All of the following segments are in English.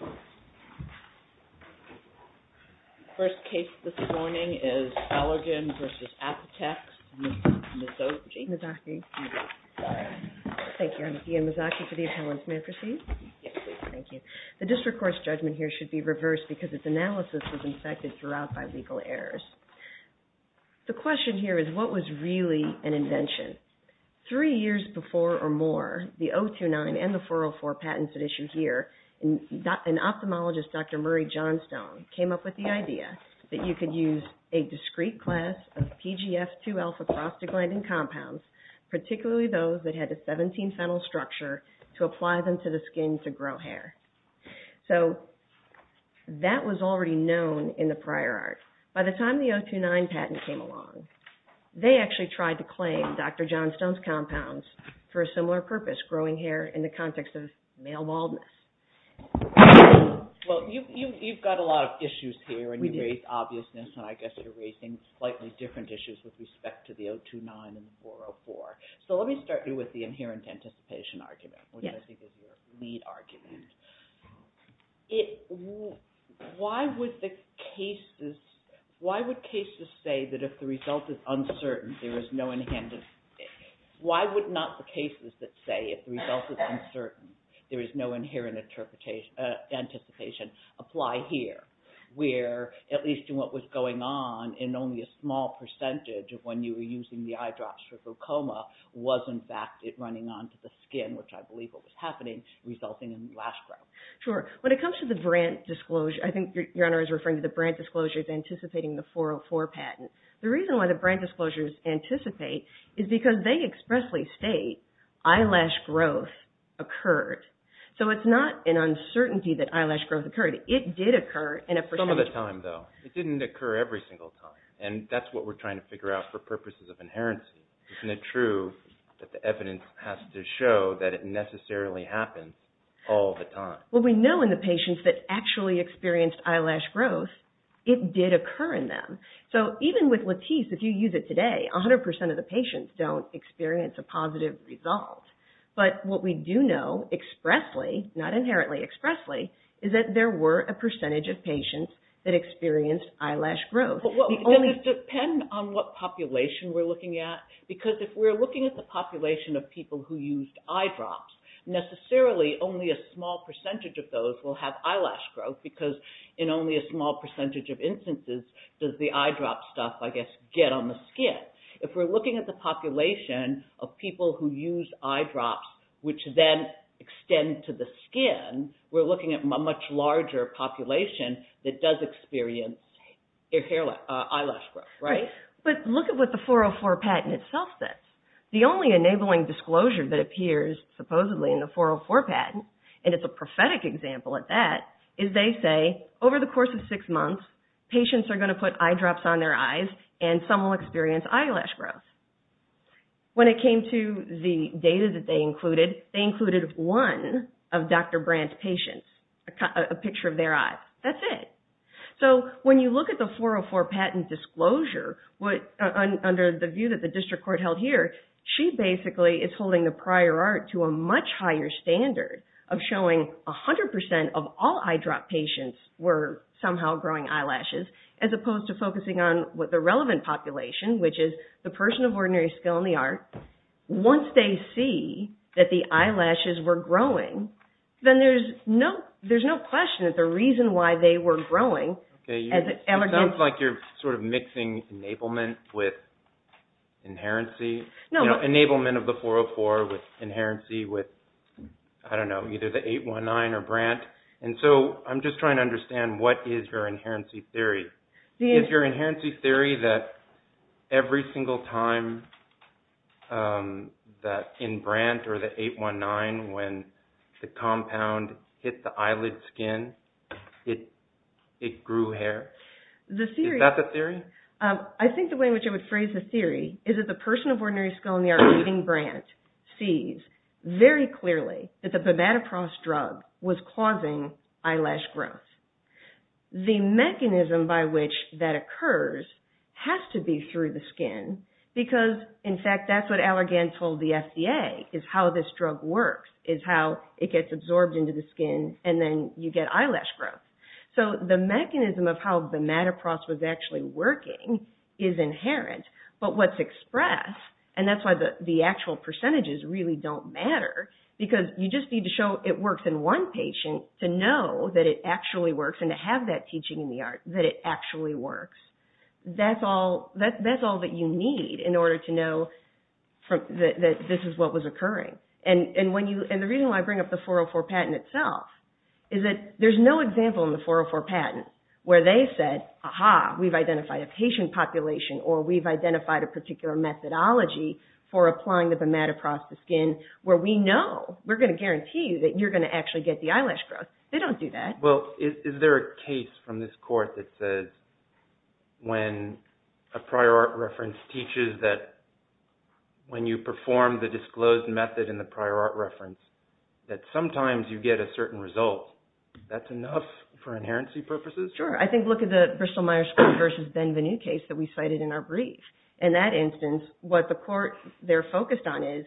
The first case this morning is Allergan v. Apotex, Ms. Mazzocchi. Thank you. I'm Diane Mazzocchi for the appellants. May I proceed? Yes, please. Thank you. The district court's judgment here should be reversed because its analysis was infected throughout by legal errors. The question here is what was really an invention? Three years before or more, the 029 and the 404 patents at issue here, an ophthalmologist, Dr. Murray Johnstone, came up with the idea that you could use a discrete class of PGF2 alpha prostaglandin compounds, particularly those that had a 17-phenyl structure, to apply them to the skin to grow hair. So that was already known in the prior art. By the time the 029 patent came along, they actually tried to claim Dr. Johnstone's compounds for a similar purpose, growing hair in the context of male baldness. Well, you've got a lot of issues here and you raised obviousness and I guess you're raising slightly different issues with respect to the 029 and the 404. So let me start you with the inherent anticipation argument, which I think is your lead argument. Why would the cases, why would cases say that if the result is uncertain, there is no inherent, why would not the cases that say if the result is uncertain, there is no inherent anticipation apply here where, at least in what was going on in only a small percentage of when you were using the eye drops for glaucoma, was in fact it running onto the skin, which I believe was happening, resulting in lash growth? Sure. When it comes to the brand disclosure, I think Your Honor is referring to the brand disclosures anticipating the 404 patent. The reason why the brand disclosures anticipate is because they expressly state eyelash growth occurred. So it's not an uncertainty that eyelash growth occurred. It did occur in a percentage. Some of the time, though. It didn't occur every single time and that's what we're trying to figure out for purposes of inherency. Isn't it true that the evidence has to show that it necessarily happens all the time? Well, we know in the patients that actually experienced eyelash growth, it did occur in them. So even with Latisse, if you use it today, 100% of the patients don't experience a positive result. But what we do know expressly, not inherently expressly, is that there were a percentage of patients that experienced eyelash growth. Does it depend on what population we're looking at? Because if we're looking at the population of people who used eyedrops, necessarily only a small percentage of those will have eyelash growth because in only a small percentage of instances does the eyedrop stuff, I guess, get on the skin. If we're looking at the population of people who use eyedrops, which then extend to the skin, we're looking at a much larger population that does experience eyelash growth, right? But look at what the 404 patent itself says. The only enabling disclosure that appears supposedly in the 404 patent, and it's a prophetic example at that, is they say, over the course of six months, patients are going to put eyedrops on their eyes and some will experience eyelash growth. When it came to the data that they included, they included one of Dr. Brandt's patients, a picture of their eyes. That's it. When you look at the 404 patent disclosure, under the view that the district court held here, she basically is holding the prior art to a much higher standard of showing 100% of all eyedrop patients were somehow growing eyelashes as opposed to focusing on what the relevant population, which is the person of ordinary skill in the art, once they see that the eyelashes were growing, then there's no question that the reason why they were growing... It sounds like you're sort of mixing enablement with inherency. Enablement of the 404 with inherency with, I don't know, either the 819 or Brandt, and so I'm just trying to understand what is your inherency theory. Is your inherency theory that every single time that in Brandt or the 819, when the compound hit the eyelid skin, it grew hair? Is that the theory? I think the way in which I would phrase the theory is that the person of ordinary skill in the art reading Brandt sees very clearly that the Bimatoprost drug was causing eyelash growth. The mechanism by which that occurs has to be through the skin because, in fact, that's what Allergan told the FDA, is how this drug works, is how it gets absorbed into the skin and then you get eyelash growth. So the mechanism of how Bimatoprost was actually working is inherent, but what's expressed, and that's why the actual percentages really don't matter, because you just need to show it works in one patient to know that it actually works and to have that teaching in the art that it actually works. That's all that you need in order to know that this is what was occurring. And the reason why I bring up the 404 patent itself is that there's no example in the 404 patent where they said, aha, we've identified a patient population or we've identified a particular methodology for applying the Bimatoprost to skin where we know, we're going to guarantee you that you're going to actually get the eyelash growth. They don't do that. Well, is there a case from this court that says when a prior art reference teaches that when you perform the disclosed method in the prior art reference that sometimes you get a certain result, that's enough for inherency purposes? Sure. I think, look at the Bristol Myers versus Benvenu case that we cited in our brief. In that instance, what the court, they're focused on is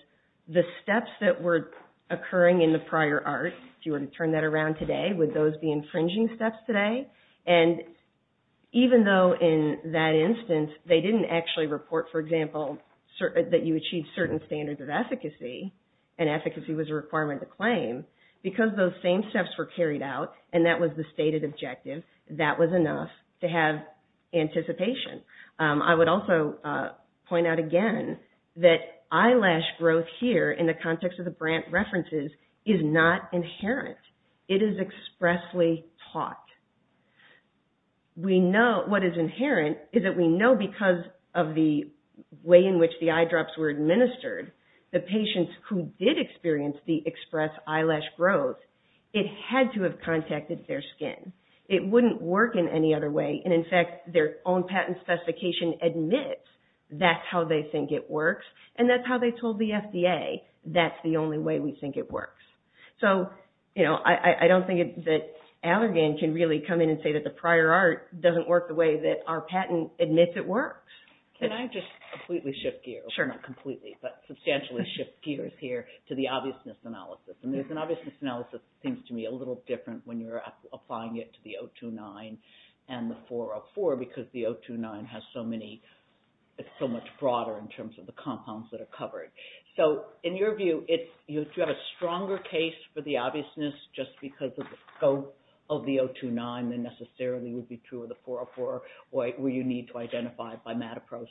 the steps that were occurring in the prior art. If you were to turn that around today, would those be infringing steps today? And even though in that instance they didn't actually report, for example, that you achieved certain standards of efficacy and efficacy was a requirement to claim, because those same steps were carried out and that was the stated objective, that was enough to have anticipation. I would also point out again that eyelash growth here in the context of the Brandt references is not inherent. It is expressly taught. What is inherent is that we know because of the way in which the eyedrops were administered, the patients who did experience the express eyelash growth, it had to have contacted their skin. It wouldn't work in any other way. And in fact, their own patent specification admits that's how they think it works. And that's how they told the FDA that's the only way we think it works. So, I don't think that Allergan can really come in and say that the prior art doesn't work the way that our patent admits it works. Can I just completely shift gears? Sure. Not completely, but substantially shift gears here to the obviousness analysis. The obviousness analysis seems to me a little different when you're applying it to the 029 and the 404 because the 029 has so many, it's so much broader in terms of the compounds that are covered. So, in your view, do you have a stronger case for the obviousness just because of the scope of the 029 than necessarily would be true of the 404 where you need to identify it by MAT approach?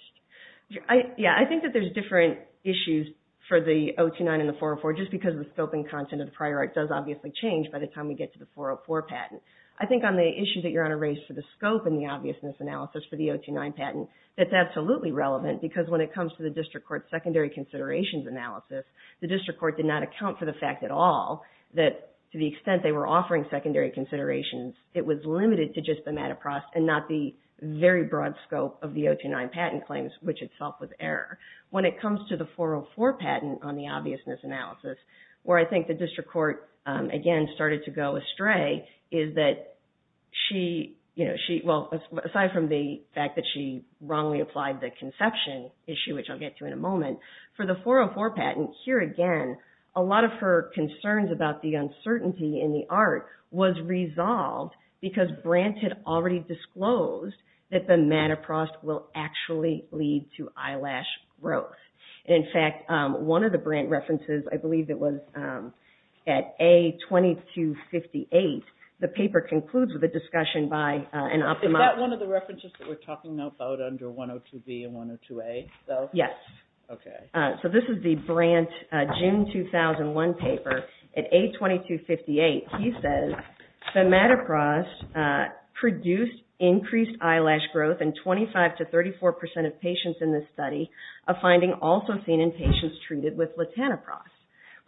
Yeah, I think that there's different issues for the 029 and the 404 just because the scoping content of the prior art does obviously change by the time we get to the 404 patent. I think on the issue that you're on a race for the scope and the obviousness analysis for the 029 patent, that's absolutely relevant because when it comes to the district court secondary considerations analysis, the district court did not account for the fact at all that to the extent they were offering secondary considerations, it was limited to just the MAT approach and not the very broad scope of the 029 patent claims, which itself was error. When it comes to the 404 patent on the obviousness analysis, where I think the district court again started to go astray is that she, well, aside from the fact that she wrongly applied the conception issue, which I'll get to in a moment, for the 404 patent, here again, a lot of her concerns about the uncertainty in the art was resolved because Brandt had already disclosed that the MAT approach will actually lead to eyelash growth. In fact, one of the Brandt references, I believe it was at A2258, the paper concludes with a discussion by an ophthalmologist. Is that one of the references that we're talking about under 102B and 102A? Yes. Okay. So this is the Brandt June 2001 paper. At A2258, he says the MAT approach produced increased eyelash growth in 25 to 34 percent of patients in this study, a finding also seen in patients treated with latanoprost.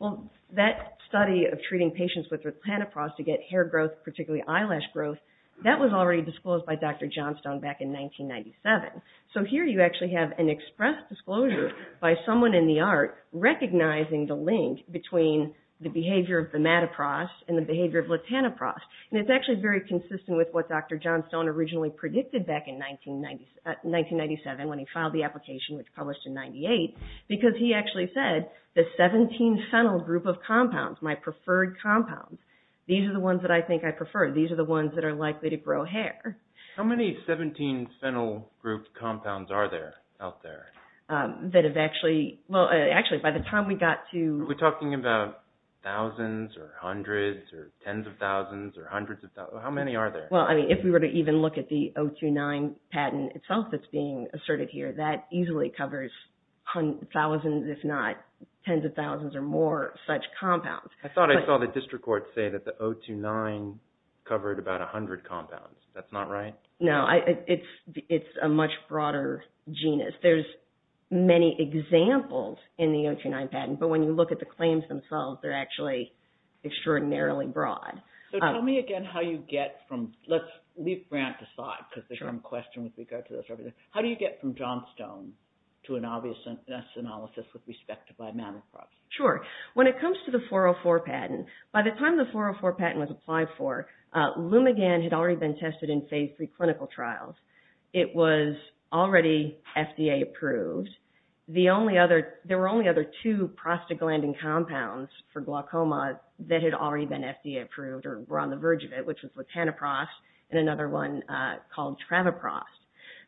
Well, that study of treating patients with latanoprost to get hair growth, particularly eyelash growth, that was already disclosed by Dr. Johnstone back in 1997. So here you actually have an express disclosure by someone in the art recognizing the link between the behavior of the matoprost and the behavior of latanoprost. And it's actually very consistent with what Dr. Johnstone originally predicted back in 1997 when he filed the application, which published in 98, because he actually said the 17-phenyl group of compounds, my preferred compounds, these are the ones that I think I prefer. These are the ones that are likely to grow hair. How many 17-phenyl group compounds are there out there? That have actually... Well, actually, by the time we got to... We're talking about thousands or hundreds or tens of thousands or hundreds of thousands. How many are there? Well, I mean, if we were to even look at the 029 patent itself that's being asserted here, that easily covers thousands, if not tens of thousands or more such compounds. I thought I saw the district court say that the 029 covered about 100 compounds. That's not right? No. It's a much broader genus. There's many examples in the 029 patent, but when you look at the claims themselves, they're actually extraordinarily broad. So tell me again how you get from... Let's leave Grant aside because there's some questions with regard to this. How do you get from Johnstone to an obviousness analysis with respect to imamoprost? Sure. When it comes to the 404 patent, by the time the 404 patent was applied for, Lumigan had already been tested in phase three clinical trials. It was already FDA approved. There were only other two prostaglandin compounds for glaucoma that had already been FDA approved or were on the verge of it, which was latanoprost and another one called travoprost.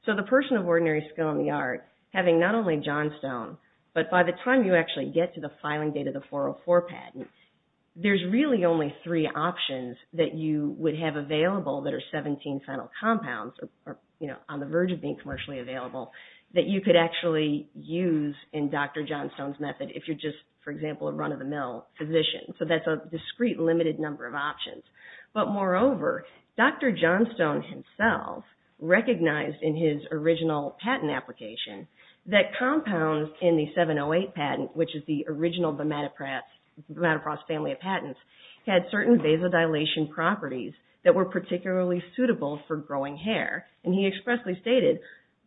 So the person of ordinary skill in the art, having not only Johnstone, but by the time you actually get to the filing date of the 404 patent, there's really only three options that you would have available that are 17 final compounds on the verge of being commercially available that you could actually use in Dr. Johnstone's method if you're just, for example, a run-of-the-mill physician. So that's a discrete limited number of options. But moreover, Dr. Johnstone himself recognized in his original patent application that compounds in the 708 patent, which is the original imamoprost family of patents, had certain vasodilation properties that were particularly suitable for growing hair. And he expressly stated,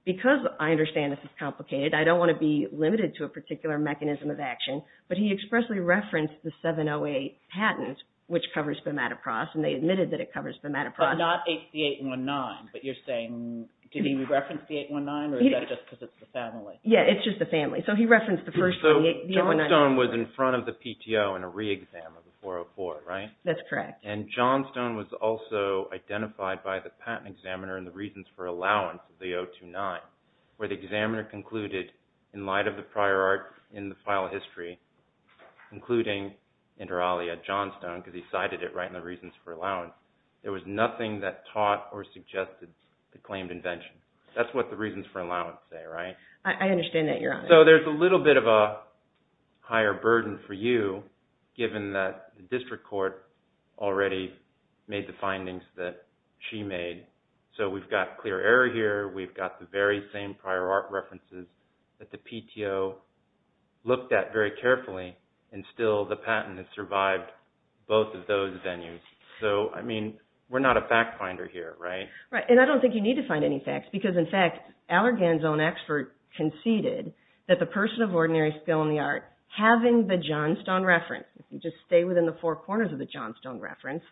because I understand this is complicated, I don't want to be limited to a particular mechanism of action, but he expressly referenced the 708 patent, which covers imamoprost, and they admitted that it covers imamoprost. But not HB819, but you're saying, did he reference HB819 or is that just because it's the family? Yeah, it's just the family. So he referenced the first one, the HB819. So Johnstone was in front of the PTO in a re-exam of the 404, right? That's correct. And Johnstone was also identified by the patent examiner in the Reasons for Allowance, the 029, where the examiner concluded, in light of the prior art in the file of history, including inter alia Johnstone, because he cited it right in the Reasons for Allowance, there was nothing that taught or suggested the claimed invention. That's what the Reasons for Allowance say, right? I understand that, Your Honor. So there's a little bit of a higher burden for you, given that the district court already made the findings that she made. So we've got clear error here, we've got the very same prior art references that the PTO looked at very carefully, and still the patent has survived both of those venues. So, I mean, we're not a fact finder here, right? Right, and I don't think you need to find any facts, because in fact, Allergan's own expert conceded that the person of ordinary skill in the art, having the Johnstone reference, if you just stay within the four corners of the Johnstone reference,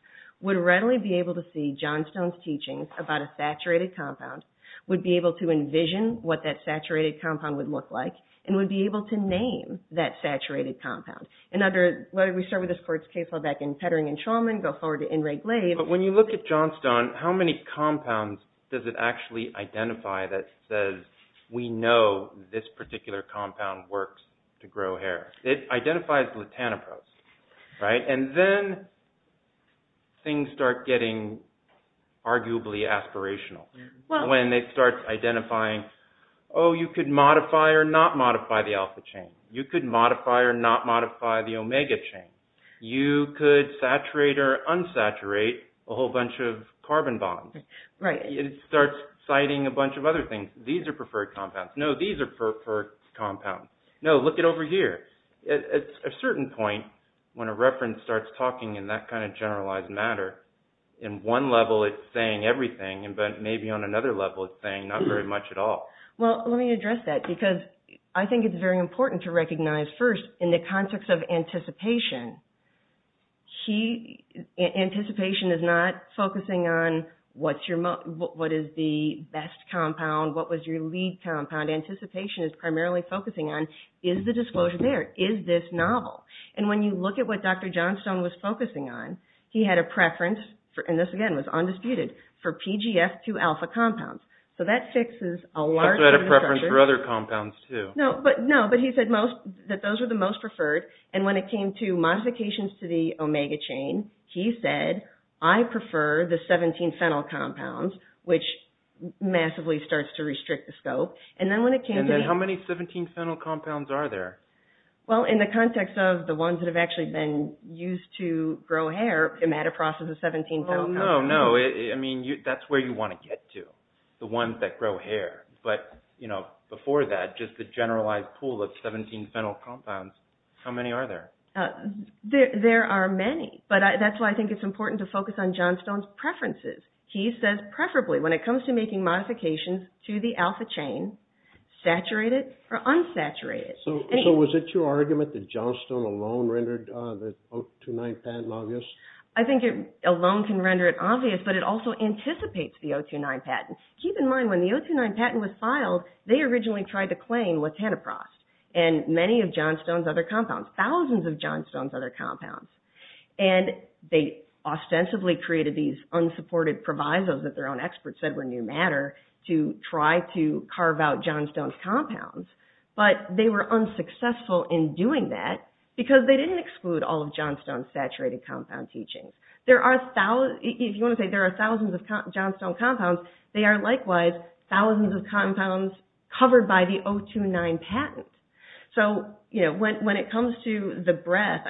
would readily be able to see Johnstone's teachings about a saturated compound, would be able to envision what that saturated compound would look like, and would be able to name that saturated compound. And under, why don't we start with this court's case law back in Pettering and Shulman, go forward to Inrig Lave. But when you look at Johnstone, how many compounds does it actually identify that says, we know this particular compound works to grow hair? It identifies latanoprost, right? And then things start getting arguably aspirational, when they start identifying, oh, you could modify or not modify the alpha chain. You could modify or not modify the omega chain. You could saturate or unsaturate a whole bunch of carbon bonds. It starts citing a bunch of other things. These are preferred compounds. No, these are preferred compounds. No, look it over here. At a certain point, when a reference starts talking in that kind of generalized matter, in one level it's saying everything, but maybe on another level it's saying not very much at all. Well, let me address that, because I think it's very important to recognize first, in the context of anticipation, anticipation is not focusing on what is the best compound, what was your lead compound. Anticipation is primarily focusing on, is the disclosure there? Is this novel? And when you look at what Dr. Johnstone was focusing on, he had a preference, and this again was undisputed, for PGF2 alpha compounds. So that fixes a large infrastructure. He also had a preference for other compounds, too. No, but he said that those were the most preferred. And when it came to modifications to the omega chain, he said, I prefer the 17-phenyl compounds, which massively starts to restrict the scope. And then when it came to the... And then how many 17-phenyl compounds are there? Well, in the context of the ones that have actually been used to grow hair, imidapross is a 17-phenyl compound. Oh, no, no. I mean, that's where you want to get to, the ones that grow hair. But before that, just the generalized pool of 17-phenyl compounds, how many are there? There are many. But that's why I think it's important to focus on Johnstone's preferences. He says, preferably, when it comes to making modifications to the alpha chain, saturated or unsaturated. So was it your argument that Johnstone alone rendered the O29 patent obvious? I think it alone can render it obvious, but it also anticipates the O29 patent. Keep in mind, when the O29 patent was filed, they originally tried to claim what Tanaprost and many of Johnstone's other compounds, thousands of Johnstone's other compounds. And they ostensibly created these unsupported provisos that their own experts said were new matter to try to carve out Johnstone's compounds. But they were unsuccessful in doing that because they didn't exclude all of Johnstone's saturated compound teachings. If you want to say there are thousands of Johnstone compounds, they are likewise thousands of compounds covered by the O29 patent. So when it comes to the breadth,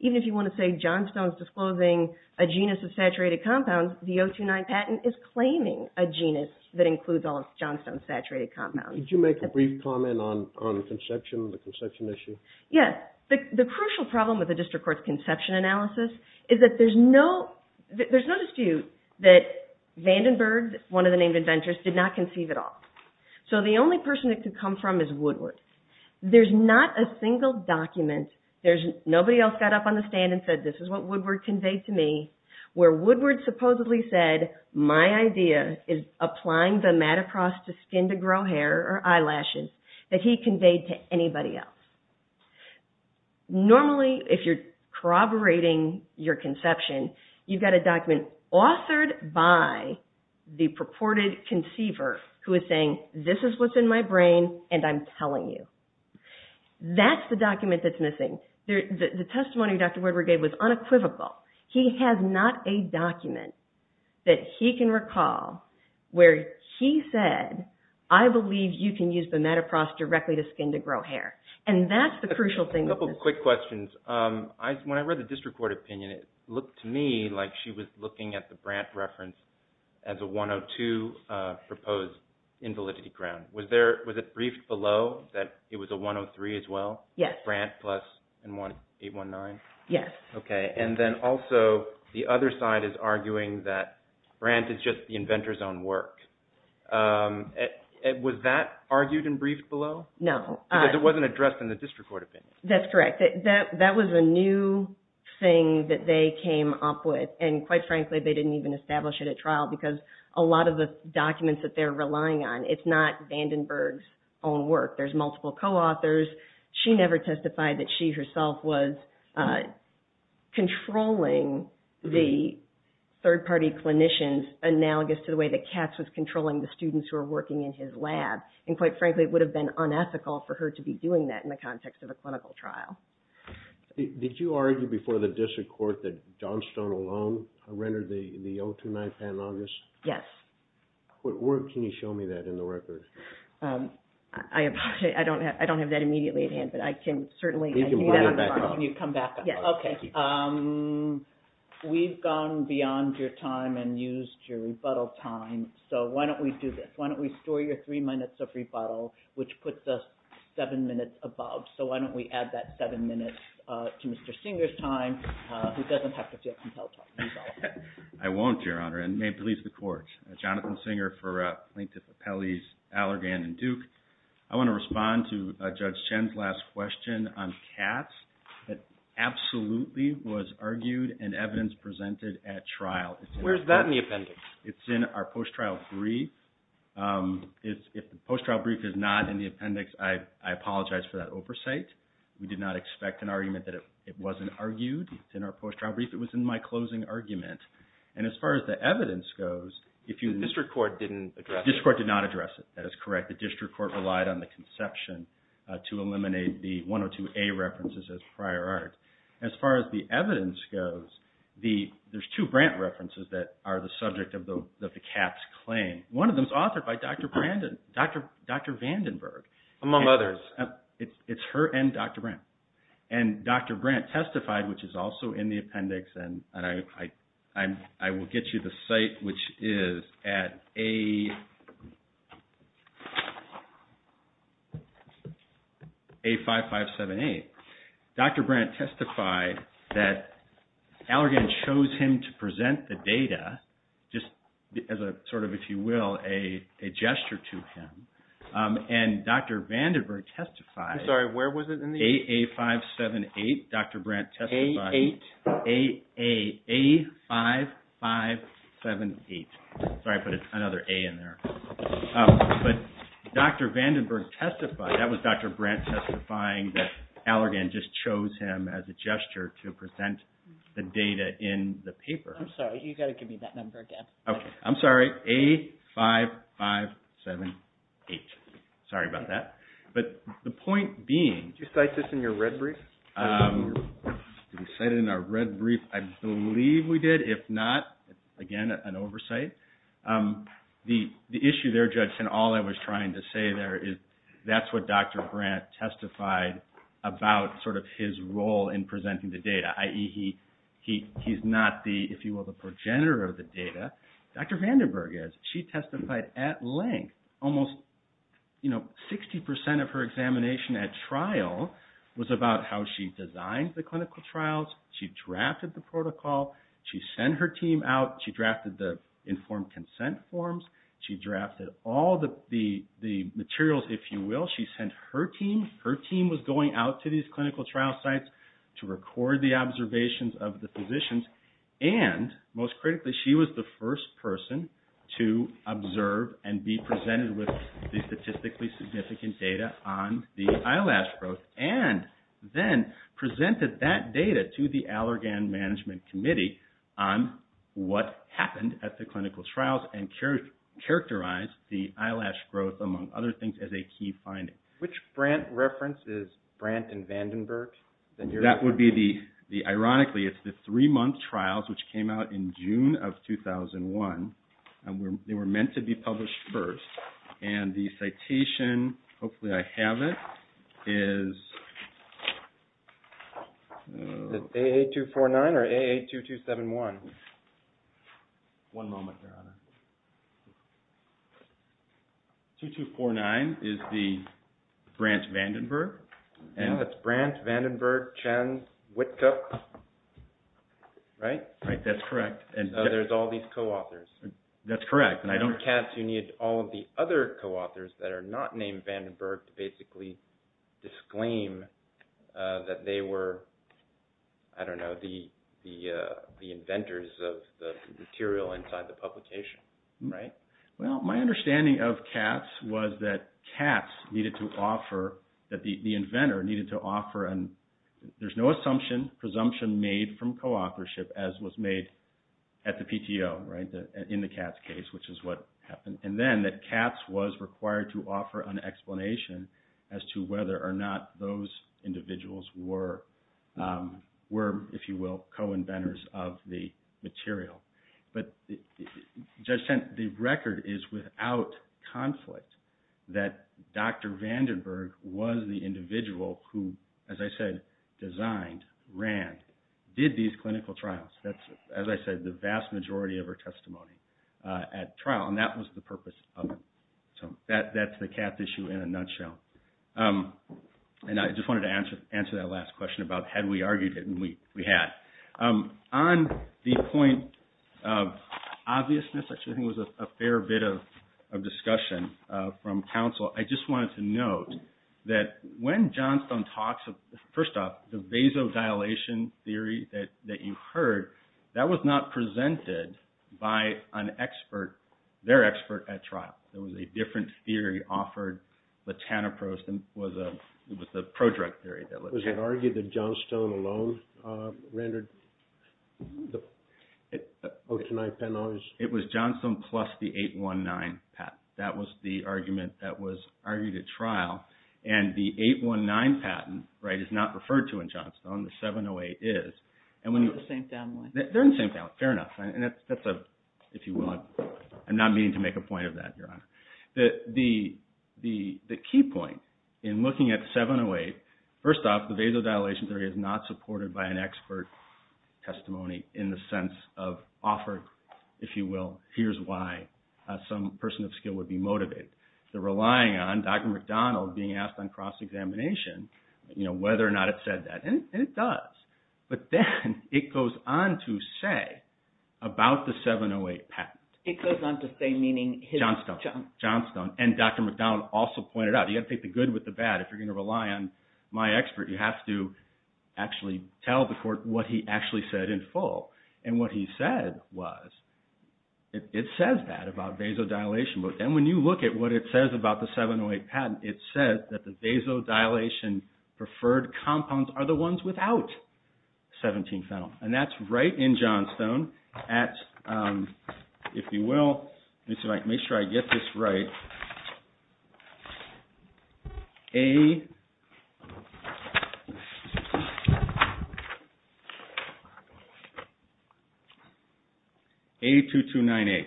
even if you want to say Johnstone's disclosing a genus of saturated compounds, the O29 patent is claiming a genus that includes all of Johnstone's saturated compounds. Did you make a brief comment on conception, the conception issue? Yes. The crucial problem with the district court's conception analysis is that there's no dispute that Vandenberg, one of the named inventors, did not conceive it all. So the only person it could come from is Woodward. There's not a single document, nobody else got up on the stand and said, this is what Woodward conveyed to me, where Woodward supposedly said, my idea is applying the matacross to my skin to grow hair or eyelashes that he conveyed to anybody else. Normally, if you're corroborating your conception, you've got a document authored by the purported conceiver who is saying, this is what's in my brain and I'm telling you. That's the document that's missing. The testimony Dr. Woodward gave was unequivocal. He has not a document that he can recall where he said, I believe you can use the matacross directly to skin to grow hair. And that's the crucial thing. A couple quick questions. When I read the district court opinion, it looked to me like she was looking at the Brandt reference as a 102 proposed invalidity ground. Was it briefed below that it was a 103 as well? Yes. Brandt plus 819? Yes. Okay. And then also, the other side is arguing that Brandt is just the inventor's own work. Was that argued and briefed below? No. Because it wasn't addressed in the district court opinion. That's correct. That was a new thing that they came up with. And quite frankly, they didn't even establish it at trial because a lot of the documents that they're relying on, it's not Vandenberg's own work. There's multiple co-authors. She never testified that she herself was controlling the third-party clinicians analogous to the way that Katz was controlling the students who were working in his lab. And quite frankly, it would have been unethical for her to be doing that in the context of a clinical trial. Did you argue before the district court that Johnstone alone rendered the 029 panalogous? Yes. Can you show me that in the record? I apologize. I don't have that immediately at hand, but I can certainly... You can bring it back up. Can you come back up? Yes. Okay. We've gone beyond your time and used your rebuttal time, so why don't we do this? Why don't we store your three minutes of rebuttal, which puts us seven minutes above? So why don't we add that seven minutes to Mr. Singer's time, who doesn't have to feel compelled to rebuttal? I won't, Your Honor, and may it please the Court. Jonathan Singer for Plaintiff Appellees Allergan and Duke. I want to respond to Judge Chen's last question on Katz. It absolutely was argued and evidence presented at trial. Where's that in the appendix? It's in our post-trial brief. If the post-trial brief is not in the appendix, I apologize for that oversight. We did not expect an argument that it wasn't argued. It's in our post-trial brief. It was in my closing argument. And as far as the evidence goes, if you... The district court didn't address it. The district court did not address it. That is correct. The district court relied on the conception to eliminate the 102A references as prior art. As far as the evidence goes, there's two Brandt references that are the subject of the Katz claim. One of them is authored by Dr. Vandenberg. Among others. It's her and Dr. Brandt. And Dr. Brandt testified, which is also in the appendix, and I will get you the site, which is at A5578. Dr. Brandt testified that Allergan chose him to present the data just as a sort of, if you will, a gesture to him. And Dr. Vandenberg testified... I'm sorry. A5578. Dr. Brandt testified... A8. A5578. Sorry, I put another A in there. But Dr. Vandenberg testified, that was Dr. Brandt testifying that Allergan just chose him as a gesture to present the data in the paper. I'm sorry. You've got to give me that number again. Okay. I'm sorry. A5578. Sorry about that. But the point being... Did you cite this in your red brief? Did we cite it in our red brief? I believe we did. If not, again, an oversight. The issue there, Judge, and all I was trying to say there is that's what Dr. Brandt testified about sort of his role in presenting the data. I.e., he's not the, if you will, the progenitor of the data. Dr. Vandenberg is. She testified at length. Almost 60% of her examination at trial was about how she designed the clinical trials. She drafted the protocol. She sent her team out. She drafted the informed consent forms. She drafted all the materials, if you will. She sent her team. Her team was going out to these clinical trial sites to record the observations of the physicians. And most critically, she was the first person to observe and be presented with the statistically significant data on the eyelash growth, and then presented that data to the Allergan Management Committee on what happened at the clinical trials and characterized the eyelash growth, among other things, as a key finding. Which Brandt reference is Brandt and Vandenberg? That would be the, ironically, it's the three-month trials, which came out in June of 2001, and they were meant to be published first. And the citation, hopefully I have it, is AA249 or AA2271? One moment, Your Honor. 2249 is the Brandt-Vandenberg. Yeah, that's Brandt, Vandenberg, Chen, Whitcup, right? Right, that's correct. So there's all these co-authors. That's correct. And I don't care if you need all of the other co-authors that are not named Vandenberg to basically disclaim that they were, I don't know, the inventors of the material inside the publication, right? Well, my understanding of Katz was that Katz needed to offer, that the inventor needed to offer, and there's no assumption, presumption made from co-authorship, as was made at the PTO, right, in the Katz case, which is what happened, and then that Katz was required to offer an explanation as to whether or not those individuals were, if you will, co-inventors of the material. But Judge Chen, the record is without conflict that Dr. Vandenberg was the individual who, as I said, designed, ran, did these clinical trials. That's, as I said, the vast majority of her testimony at trial, and that was the purpose of it. So that's the Katz issue in a nutshell. And I just wanted to answer that last question about had we argued it, and we had. On the point of obviousness, which I think was a fair bit of discussion from counsel, I just wanted to note that when Johnstone talks of, first off, the vasodilation theory that you heard, that was not presented by an expert, their expert at trial. There was a different theory offered. It was the pro-drug theory. Was it argued that Johnstone alone rendered the Otonine patent owners? It was Johnstone plus the 819 patent. That was the argument that was argued at trial, and the 819 patent is not referred to in Johnstone. The 708 is. They're in the same family. They're in the same family, fair enough. And that's a, if you will, I'm not meaning to make a point of that, Your Honor. The key point in looking at 708, first off, the vasodilation theory is not supported by an expert testimony in the sense of offered, if you will, here's why some person of skill would be motivated. They're relying on Dr. McDonald being asked on cross-examination whether or not it said that. And it does. But then it goes on to say about the 708 patent. It goes on to say meaning his… Johnstone. Johnstone. And Dr. McDonald also pointed out, you have to take the good with the bad. If you're going to rely on my expert, you have to actually tell the court what he actually said in full. And what he said was, it says that about vasodilation. And when you look at what it says about the 708 patent, it says that the vasodilation-preferred compounds are the ones without 17-phenyl. And that's right in Johnstone at, if you will, make sure I get this right, A2298.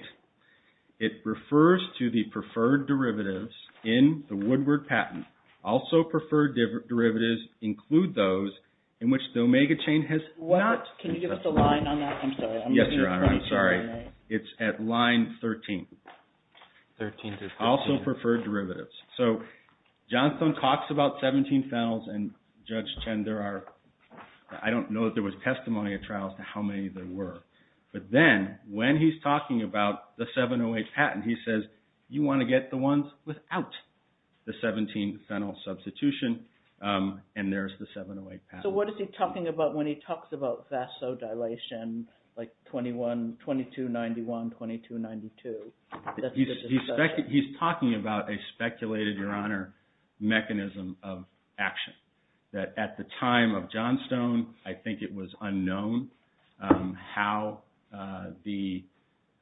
It refers to the preferred derivatives in the Woodward patent. Also preferred derivatives include those in which the omega chain has not… Can you give us the line on that? I'm sorry. Yes, Your Honor. I'm sorry. It's at line 13. Also preferred derivatives. So Johnstone talks about 17-phenyls, and Judge Chen, there are… I don't know that there was testimony at trials to how many there were. But then when he's talking about the 708 patent, he says, you want to get the ones without the 17-phenyl substitution, and there's the 708 patent. So what is he talking about when he talks about vasodilation, like 2291, 2292? He's talking about a speculated, Your Honor, mechanism of action. At the time of Johnstone, I think it was unknown how the…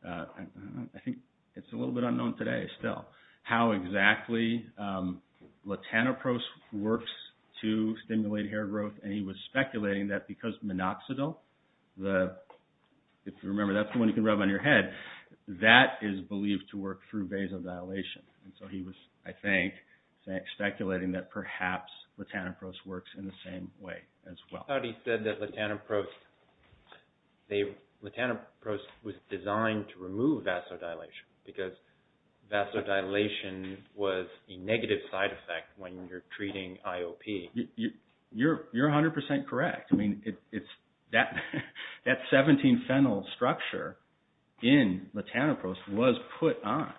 I think it's a little bit unknown today still, how exactly latanoprost works to stimulate hair growth. And he was speculating that because minoxidil, if you remember, that's the one you can rub on your head, that is believed to work through vasodilation. And so he was, I think, speculating that perhaps latanoprost works in the same way as well. I thought he said that latanoprost was designed to remove vasodilation because vasodilation was a negative side effect when you're treating IOP. You're 100% correct. That 17-phenyl structure in latanoprost was put on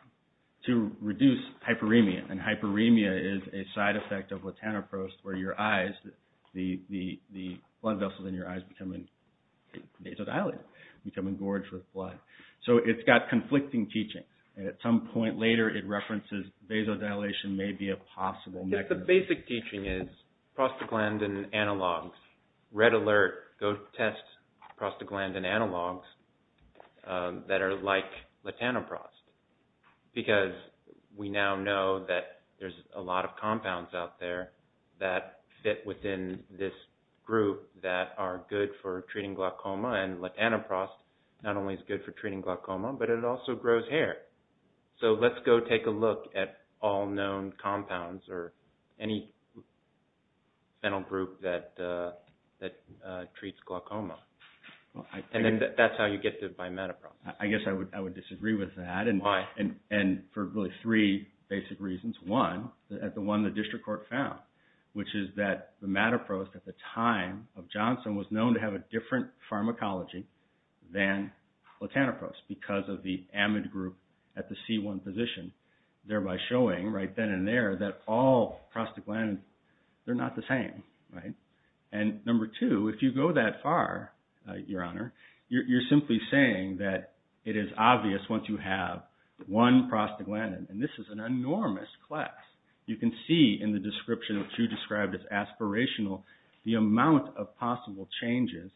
to reduce hyperemia, and hyperemia is a side effect of latanoprost where your eyes, the blood vessels in your eyes become vasodilated, become engorged with blood. So it's got conflicting teaching. At some point later, it references vasodilation may be a possible mechanism. I think the basic teaching is prostaglandin analogs. Red alert. Go test prostaglandin analogs that are like latanoprost because we now know that there's a lot of compounds out there that fit within this group that are good for treating glaucoma. And latanoprost not only is good for treating glaucoma, but it also grows hair. So let's go take a look at all known compounds or any phenyl group that treats glaucoma. And that's how you get to bimetoprost. I guess I would disagree with that. Why? And for really three basic reasons. One, the one the district court found, which is that the metaprost at the time of Johnson was known to have a different pharmacology than latanoprost because of the amide group at the C1 position, thereby showing right then and there that all prostaglandins, they're not the same. And number two, if you go that far, Your Honor, you're simply saying that it is obvious once you have one prostaglandin. And this is an enormous class. You can see in the description that you described as aspirational the amount of possible changes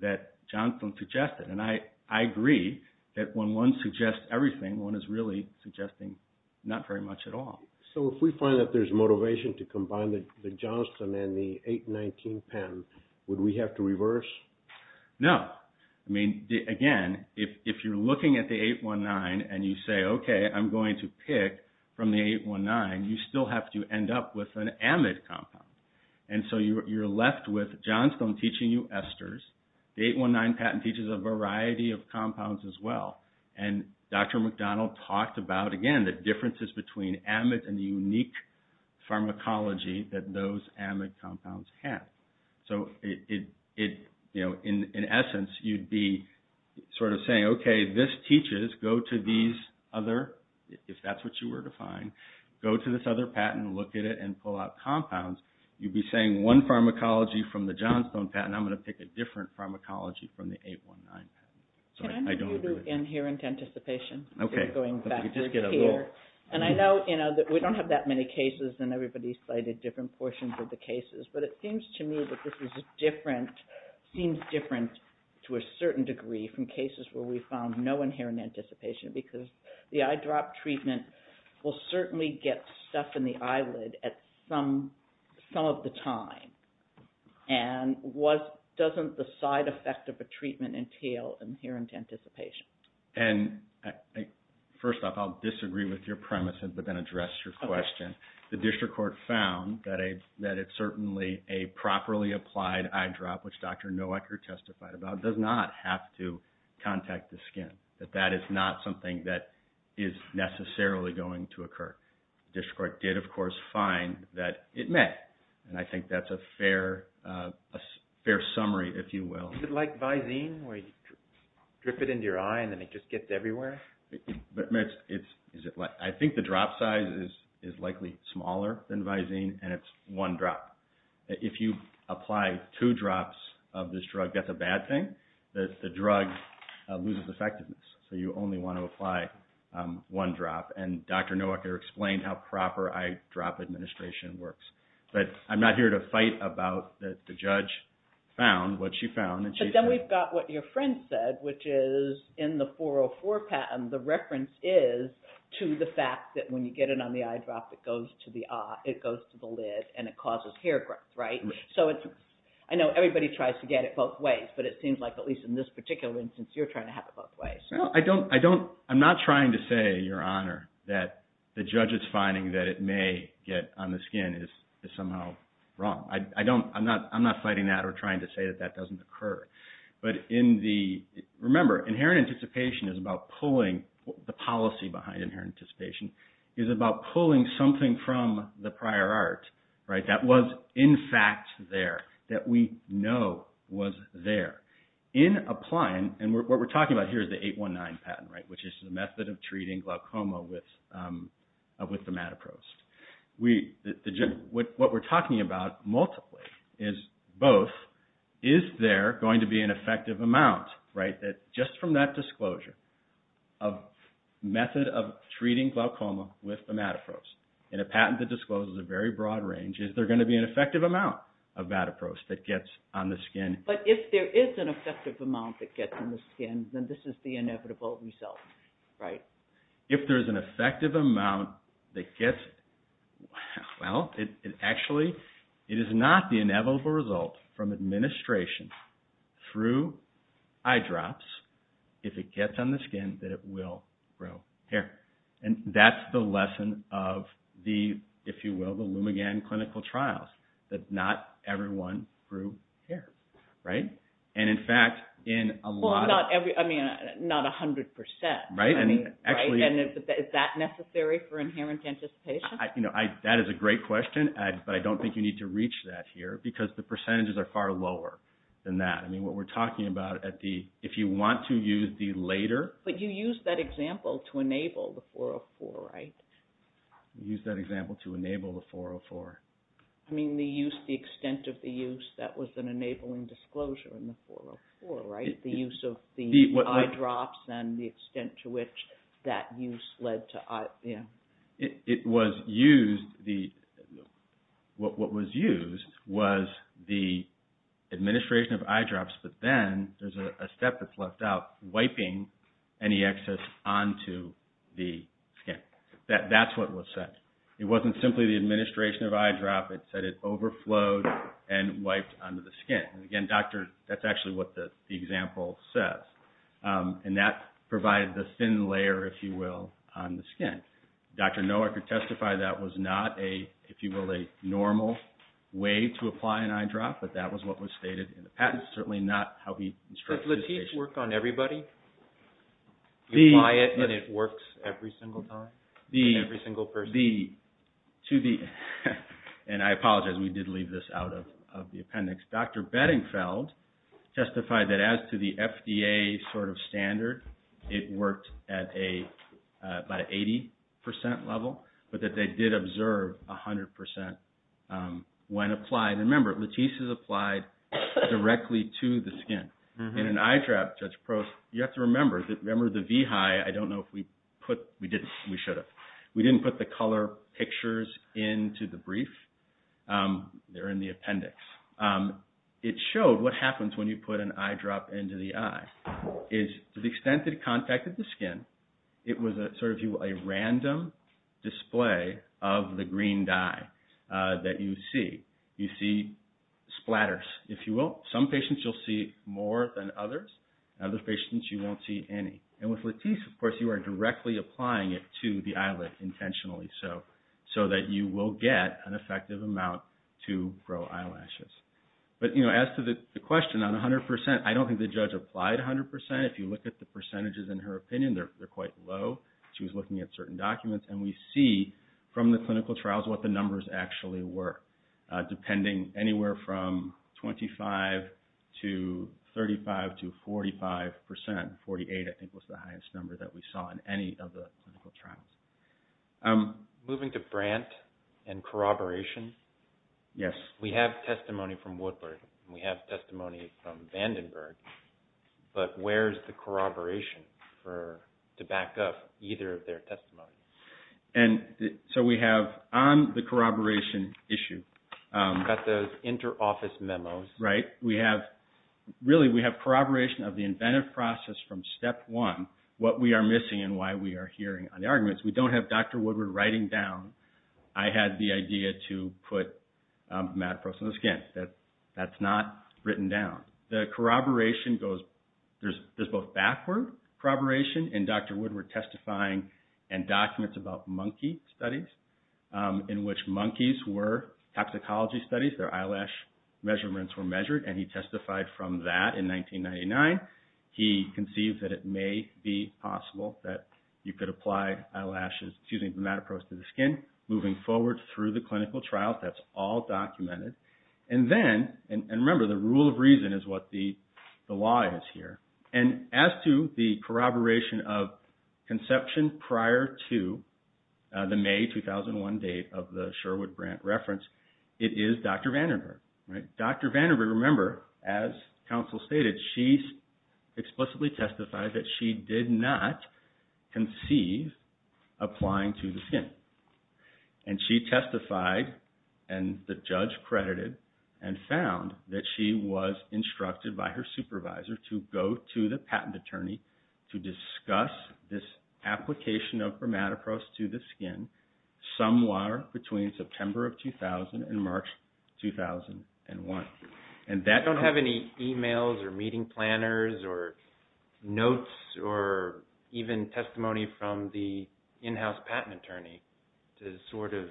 that Johnson suggested. And I agree that when one suggests everything, one is really suggesting not very much at all. So if we find that there's motivation to combine the Johnson and the 819 patent, would we have to reverse? No. I mean, again, if you're looking at the 819 and you say, okay, I'm going to pick from the 819, you still have to end up with an amide compound. And so you're left with Johnson teaching you esters. The 819 patent teaches a variety of compounds as well. And Dr. McDonald talked about, again, the differences between amides and the unique pharmacology that those amide compounds have. So in essence, you'd be sort of saying, okay, this teaches, go to these other, if that's what you were to find, go to this other patent, look at it, and then pull out compounds. You'd be saying one pharmacology from the Johnstone patent, I'm going to pick a different pharmacology from the 819 patent. Can I move you to inherent anticipation? Okay. And I know that we don't have that many cases, and everybody's cited different portions of the cases. But it seems to me that this is different, seems different to a certain degree from cases where we found no inherent anticipation, because the eyedrop treatment will certainly get stuff in the eyelid at some of the time. And doesn't the side effect of a treatment entail inherent anticipation? And first off, I'll disagree with your premise, but then address your question. The district court found that it's certainly a properly applied eyedrop, which Dr. Nowaker testified about, does not have to contact the skin, that that is not something that is necessarily going to occur. The district court did, of course, find that it met, and I think that's a fair summary, if you will. Is it like Visine, where you drip it into your eye and then it just gets everywhere? I think the drop size is likely smaller than Visine, and it's one drop. If you apply two drops of this drug, that's a bad thing. The drug loses effectiveness, so you only want to apply one drop. And Dr. Nowaker explained how proper eyedrop administration works. But I'm not here to fight about that the judge found what she found. But then we've got what your friend said, which is in the 404 patent, the reference is to the fact that when you get it on the eyedrop, it goes to the lid and it causes hair growth, right? I know everybody tries to get it both ways, but it seems like, at least in this particular instance, you're trying to have it both ways. I'm not trying to say, Your Honor, that the judge's finding that it may get on the skin is somehow wrong. I'm not fighting that or trying to say that that doesn't occur. But remember, inherent anticipation is about pulling, the policy behind inherent anticipation is about pulling something from the prior art that was, in fact, there, that we know was there. In applying, and what we're talking about here is the 819 patent, which is the method of treating glaucoma with the matapros. What we're talking about, multiply, is both, is there going to be an effective amount, that just from that disclosure of method of treating glaucoma with the matapros, in a patent that discloses a very broad range, is there going to be an effective amount of matapros that gets on the skin? But if there is an effective amount that gets on the skin, then this is the inevitable result, right? If there's an effective amount that gets, well, it actually, it is not the inevitable result from administration through eyedrops, if it gets on the skin, that it will grow hair. And that's the lesson of the, if you will, the Lumigan clinical trials, that not everyone grew hair, right? And in fact, in a lot of... Well, not every, I mean, not 100%. Right, and actually... And is that necessary for inherent anticipation? You know, that is a great question, but I don't think you need to reach that here, because the percentages are far lower than that. I mean, what we're talking about at the, if you want to use the later... But you used that example to enable the 404, right? Used that example to enable the 404. I mean, the use, the extent of the use, that was an enabling disclosure in the 404, right? The use of the eyedrops and the extent to which that use led to, yeah. It was used, what was used was the administration of eyedrops, but then there's a step that's left out, wiping any excess onto the skin. That's what was said. It wasn't simply the administration of eyedrop. It said it overflowed and wiped onto the skin. And again, that's actually what the example says. And that provided the thin layer, if you will, on the skin. Dr. Noah could testify that was not a, if you will, a normal way to apply an eyedrop, but that was what was stated in the patent. That's certainly not how he instructs his patients. Does Latisse work on everybody? You apply it and it works every single time? In every single person? The, to the, and I apologize, we did leave this out of the appendix. Dr. Bedingfeld testified that as to the FDA sort of standard, it worked at a, about an 80% level, but that they did observe 100% when applied. And remember, Latisse is applied directly to the skin. In an eyedrop, Judge Prost, you have to remember, remember the V-hi, I don't know if we put, we didn't. We should have. We didn't put the color pictures into the brief. They're in the appendix. It showed what happens when you put an eyedrop into the eye, is to the extent that it contacted the skin, it was sort of a random display of the green dye that you see. You see splatters, if you will. Some patients you'll see more than others. Other patients you won't see any. And with Latisse, of course, you are directly applying it to the eyelid, intentionally so, so that you will get an effective amount to grow eyelashes. But, you know, as to the question on 100%, I don't think the judge applied 100%. If you look at the percentages in her opinion, they're quite low. She was looking at certain documents, and we see from the clinical trials what the numbers actually were. Depending anywhere from 25 to 35 to 45%. 48, I think, was the highest number that we saw in any of the clinical trials. Moving to Brandt and corroboration. Yes. We have testimony from Woodward. We have testimony from Vandenberg. But where's the corroboration to back up either of their testimonies? So we have on the corroboration issue. Got those inter-office memos. Right. Really, we have corroboration of the inventive process from step one, what we are missing and why we are hearing on the arguments. We don't have Dr. Woodward writing down, I had the idea to put mad pros on the skin. That's not written down. The corroboration goes, there's both backward corroboration, and Dr. Woodward testifying in documents about monkey studies, in which monkeys were toxicology studies, their eyelash measurements were measured, and he testified from that in 1999. He conceived that it may be possible that you could apply eyelashes, using mad pros to the skin, moving forward through the clinical trials. That's all documented. And remember, the rule of reason is what the law is here. And as to the corroboration of conception prior to the May 2001 date of the Sherwood-Brandt reference, it is Dr. Vandenberg. Dr. Vandenberg, remember, as counsel stated, she explicitly testified that she did not conceive applying to the skin. And she testified, and the judge credited, and found that she was instructed by her supervisor to go to the patent attorney to discuss this application of for mad pros to the skin, somewhere between September of 2000 and March 2001. I don't have any emails or meeting planners or notes or even testimony from the in-house patent attorney to sort of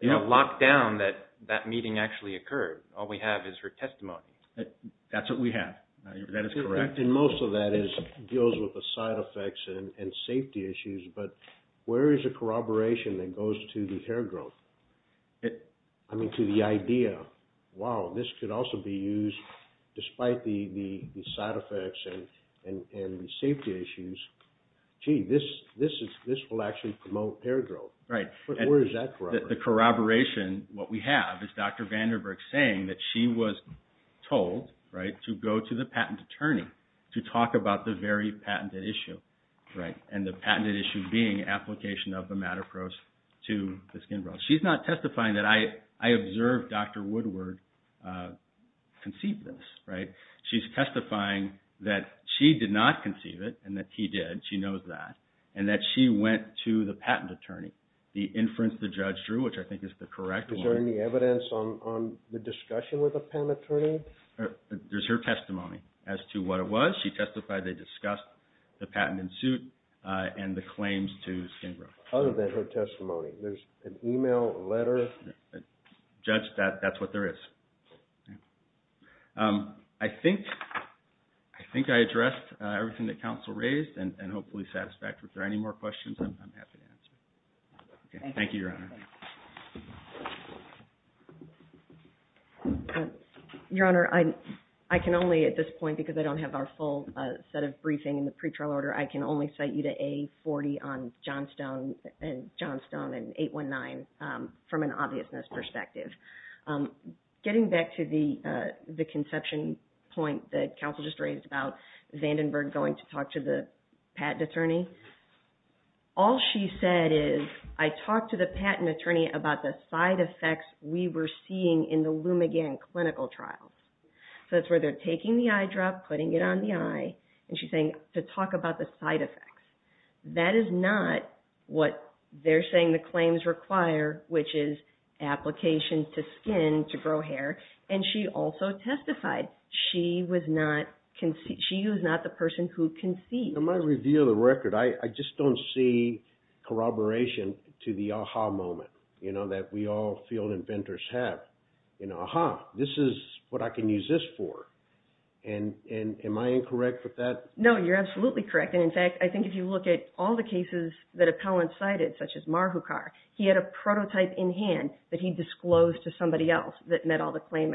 lock down that that meeting actually occurred. All we have is her testimony. That's what we have. That is correct. And most of that deals with the side effects and safety issues, but where is the corroboration that goes to the hair growth? I mean, to the idea. Wow, this could also be used despite the side effects and the safety issues. Gee, this will actually promote hair growth. Right. Where is that corroboration? The corroboration, what we have is Dr. Vandenberg saying that she was told, right, to go to the patent attorney to talk about the very patented issue. Right. And the patented issue being application of the mad pros to the skin growth. She's not testifying that I observed Dr. Woodward conceive this. Right. She's testifying that she did not conceive it and that he did. She knows that. And that she went to the patent attorney, the inference the judge drew, which I think is the correct one. Is there any evidence on the discussion with the patent attorney? There's her testimony as to what it was. She testified they discussed the patent in suit and the claims to skin growth. Other than her testimony, there's an email, a letter? Judge, that's what there is. I think I addressed everything that counsel raised and hopefully satisfied. If there are any more questions, I'm happy to answer. Thank you, Your Honor. Your Honor, I can only at this point, because I don't have our full set of briefing in the pre-trial order, I can only cite you to A40 on Johnstone and 819 from an obviousness perspective. Getting back to the conception point that counsel just raised about Vandenberg going to talk to the patent attorney, all she said is I talked to the patent attorney about the side effects we were seeing in the Lumigan clinical trials. So that's where they're taking the eye drop, putting it on the eye, and she's saying to talk about the side effects. That is not what they're saying the claims require, which is application to skin to grow hair. And she also testified she was not the person who conceived. In my review of the record, I just don't see corroboration to the aha moment, you know, that we all field inventors have. Aha, this is what I can use this for. And am I incorrect with that? No, you're absolutely correct. And, in fact, I think if you look at all the cases that appellants cited, such as Marhukar, he had a prototype in hand that he disclosed to somebody else that met all the claim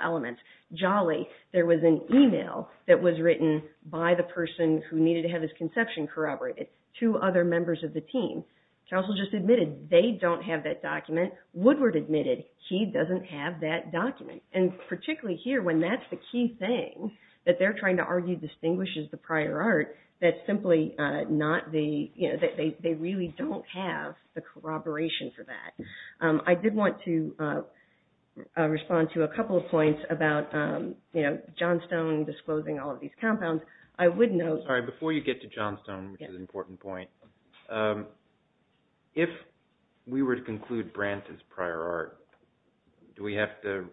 elements. Jolly, there was an email that was written by the person who needed to have his conception corroborated to other members of the team. Counsel just admitted they don't have that document. Woodward admitted he doesn't have that document. And particularly here, when that's the key thing that they're trying to argue distinguishes the prior art, that's simply not the, you know, they really don't have the corroboration for that. I did want to respond to a couple of points about, you know, Johnstone disclosing all of these compounds. I would note – All right, before you get to Johnstone, which is an important point, if we were to conclude Brandt is prior art, do we have to,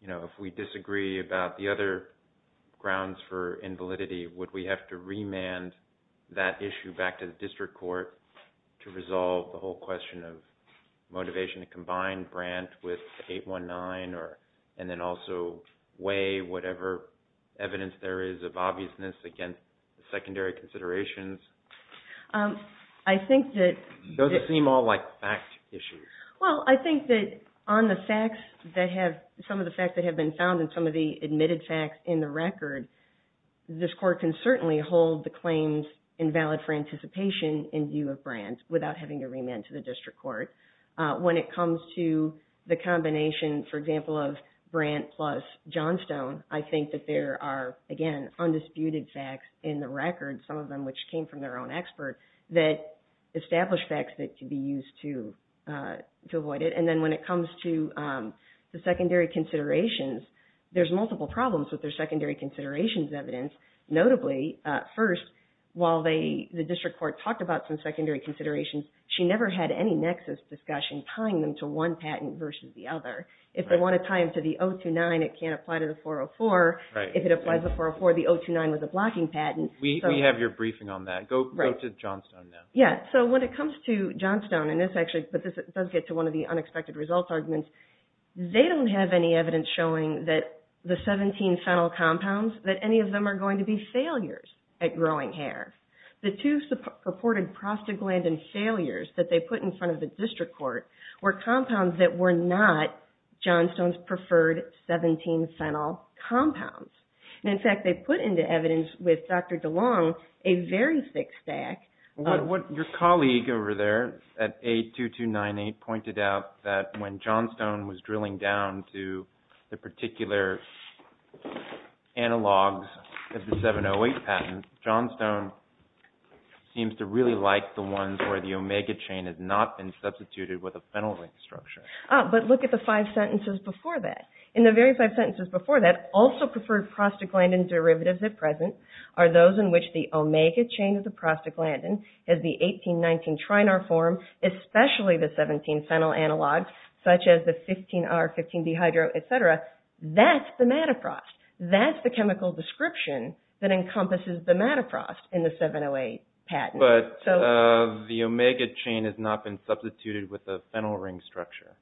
you know, if we disagree about the other grounds for invalidity, would we have to remand that issue back to the district court to resolve the whole question of motivation to combine Brandt with 819 and then also weigh whatever evidence there is of obviousness against the secondary considerations? I think that – Those seem all like fact issues. Well, I think that on the facts that have – some of the facts that have been found and some of the admitted facts in the record, this court can certainly hold the claims invalid for anticipation in view of Brandt without having to remand to the district court. When it comes to the combination, for example, of Brandt plus Johnstone, I think that there are, again, undisputed facts in the record, some of them which came from their own expert, that established facts that could be used to avoid it. And then when it comes to the secondary considerations, there's multiple problems with their secondary considerations evidence. Notably, first, while the district court talked about some secondary considerations, she never had any nexus discussion tying them to one patent versus the other. If they want to tie them to the 029, it can't apply to the 404. If it applies to the 404, the 029 was a blocking patent. We have your briefing on that. Go to Johnstone now. Yeah. So when it comes to Johnstone, and this actually – but this does get to one of the unexpected results arguments. They don't have any evidence showing that the 17 fennel compounds, that any of them are going to be failures at growing hair. The two purported prostaglandin failures that they put in front of the district court were compounds that were not Johnstone's preferred 17 fennel compounds. And, in fact, they put into evidence with Dr. DeLong a very thick stack. What your colleague over there at A2298 pointed out, that when Johnstone was drilling down to the particular analogs of the 708 patent, Johnstone seems to really like the ones where the omega chain has not been substituted with a fennel-like structure. But look at the five sentences before that. In the very five sentences before that, also preferred prostaglandin derivatives at present are those in which the omega chain of the prostaglandin has the 1819 trinar form, especially the 17 fennel analogs, such as the 15R, 15B hydro, et cetera. That's the mataprost. That's the chemical description that encompasses the mataprost in the 708 patent. But the omega chain has not been substituted with a fennel ring structure.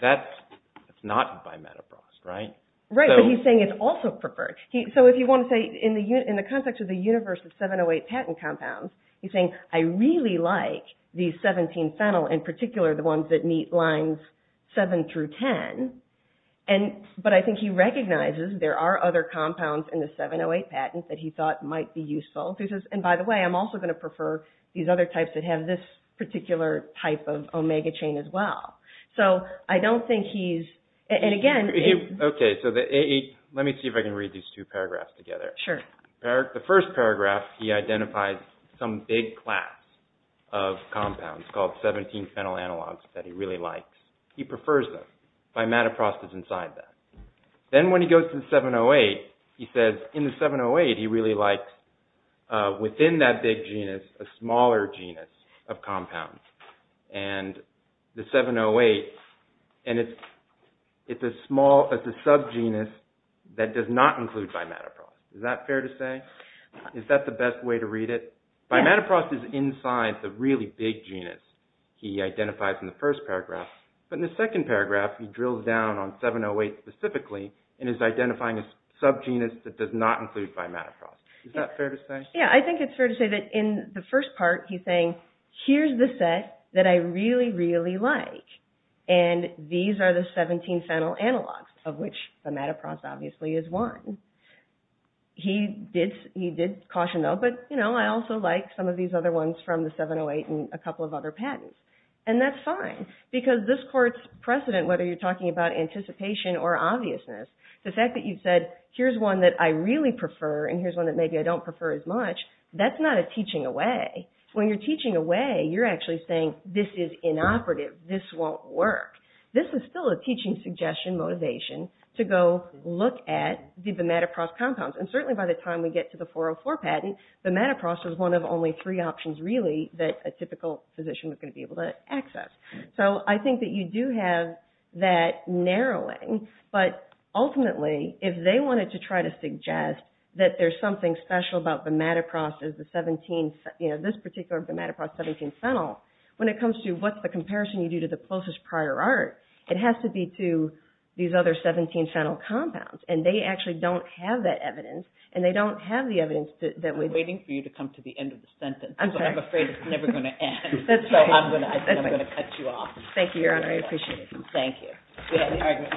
That's not by mataprost, right? Right, but he's saying it's also preferred. So if you want to say, in the context of the universe of 708 patent compounds, he's saying, I really like the 17 fennel, in particular, the ones that meet lines 7 through 10. But I think he recognizes there are other compounds in the 708 patent that he thought might be useful. He says, and by the way, I'm also going to prefer these other types that have this particular type of omega chain as well. So I don't think he's – and again – Okay, so let me see if I can read these two paragraphs together. Sure. The first paragraph, he identifies some big class of compounds called 17 fennel analogs that he really likes. He prefers them. By mataprost is inside that. Then when he goes to the 708, he says, but in the 708, he really liked, within that big genus, a smaller genus of compounds. And the 708, and it's as small as the subgenus that does not include by mataprost. Is that fair to say? Is that the best way to read it? By mataprost is inside the really big genus he identifies in the first paragraph. But in the second paragraph, he drills down on 708 specifically and is identifying a subgenus that does not include by mataprost. Is that fair to say? Yeah, I think it's fair to say that in the first part, he's saying, here's the set that I really, really like. And these are the 17 fennel analogs, of which the mataprost obviously is one. He did caution, though, but, you know, I also like some of these other ones from the 708 And that's fine, because this court's precedent, whether you're talking about anticipation or obviousness, the fact that you've said, here's one that I really prefer, and here's one that maybe I don't prefer as much, that's not a teaching away. When you're teaching away, you're actually saying, this is inoperative, this won't work. This is still a teaching suggestion motivation to go look at the mataprost compounds. And certainly by the time we get to the 404 patent, the mataprost was one of only three options, really, that a typical physician would be able to access. So I think that you do have that narrowing, but ultimately, if they wanted to try to suggest that there's something special about the mataprost, this particular mataprost 17 fennel, when it comes to what's the comparison you do to the closest prior art, it has to be to these other 17 fennel compounds. And they actually don't have that evidence, and they don't have the evidence that we... I'm waiting for you to come to the end of the sentence. I'm afraid it's never going to end. I'm going to cut you off. Thank you, Your Honor, I appreciate it. Thank you.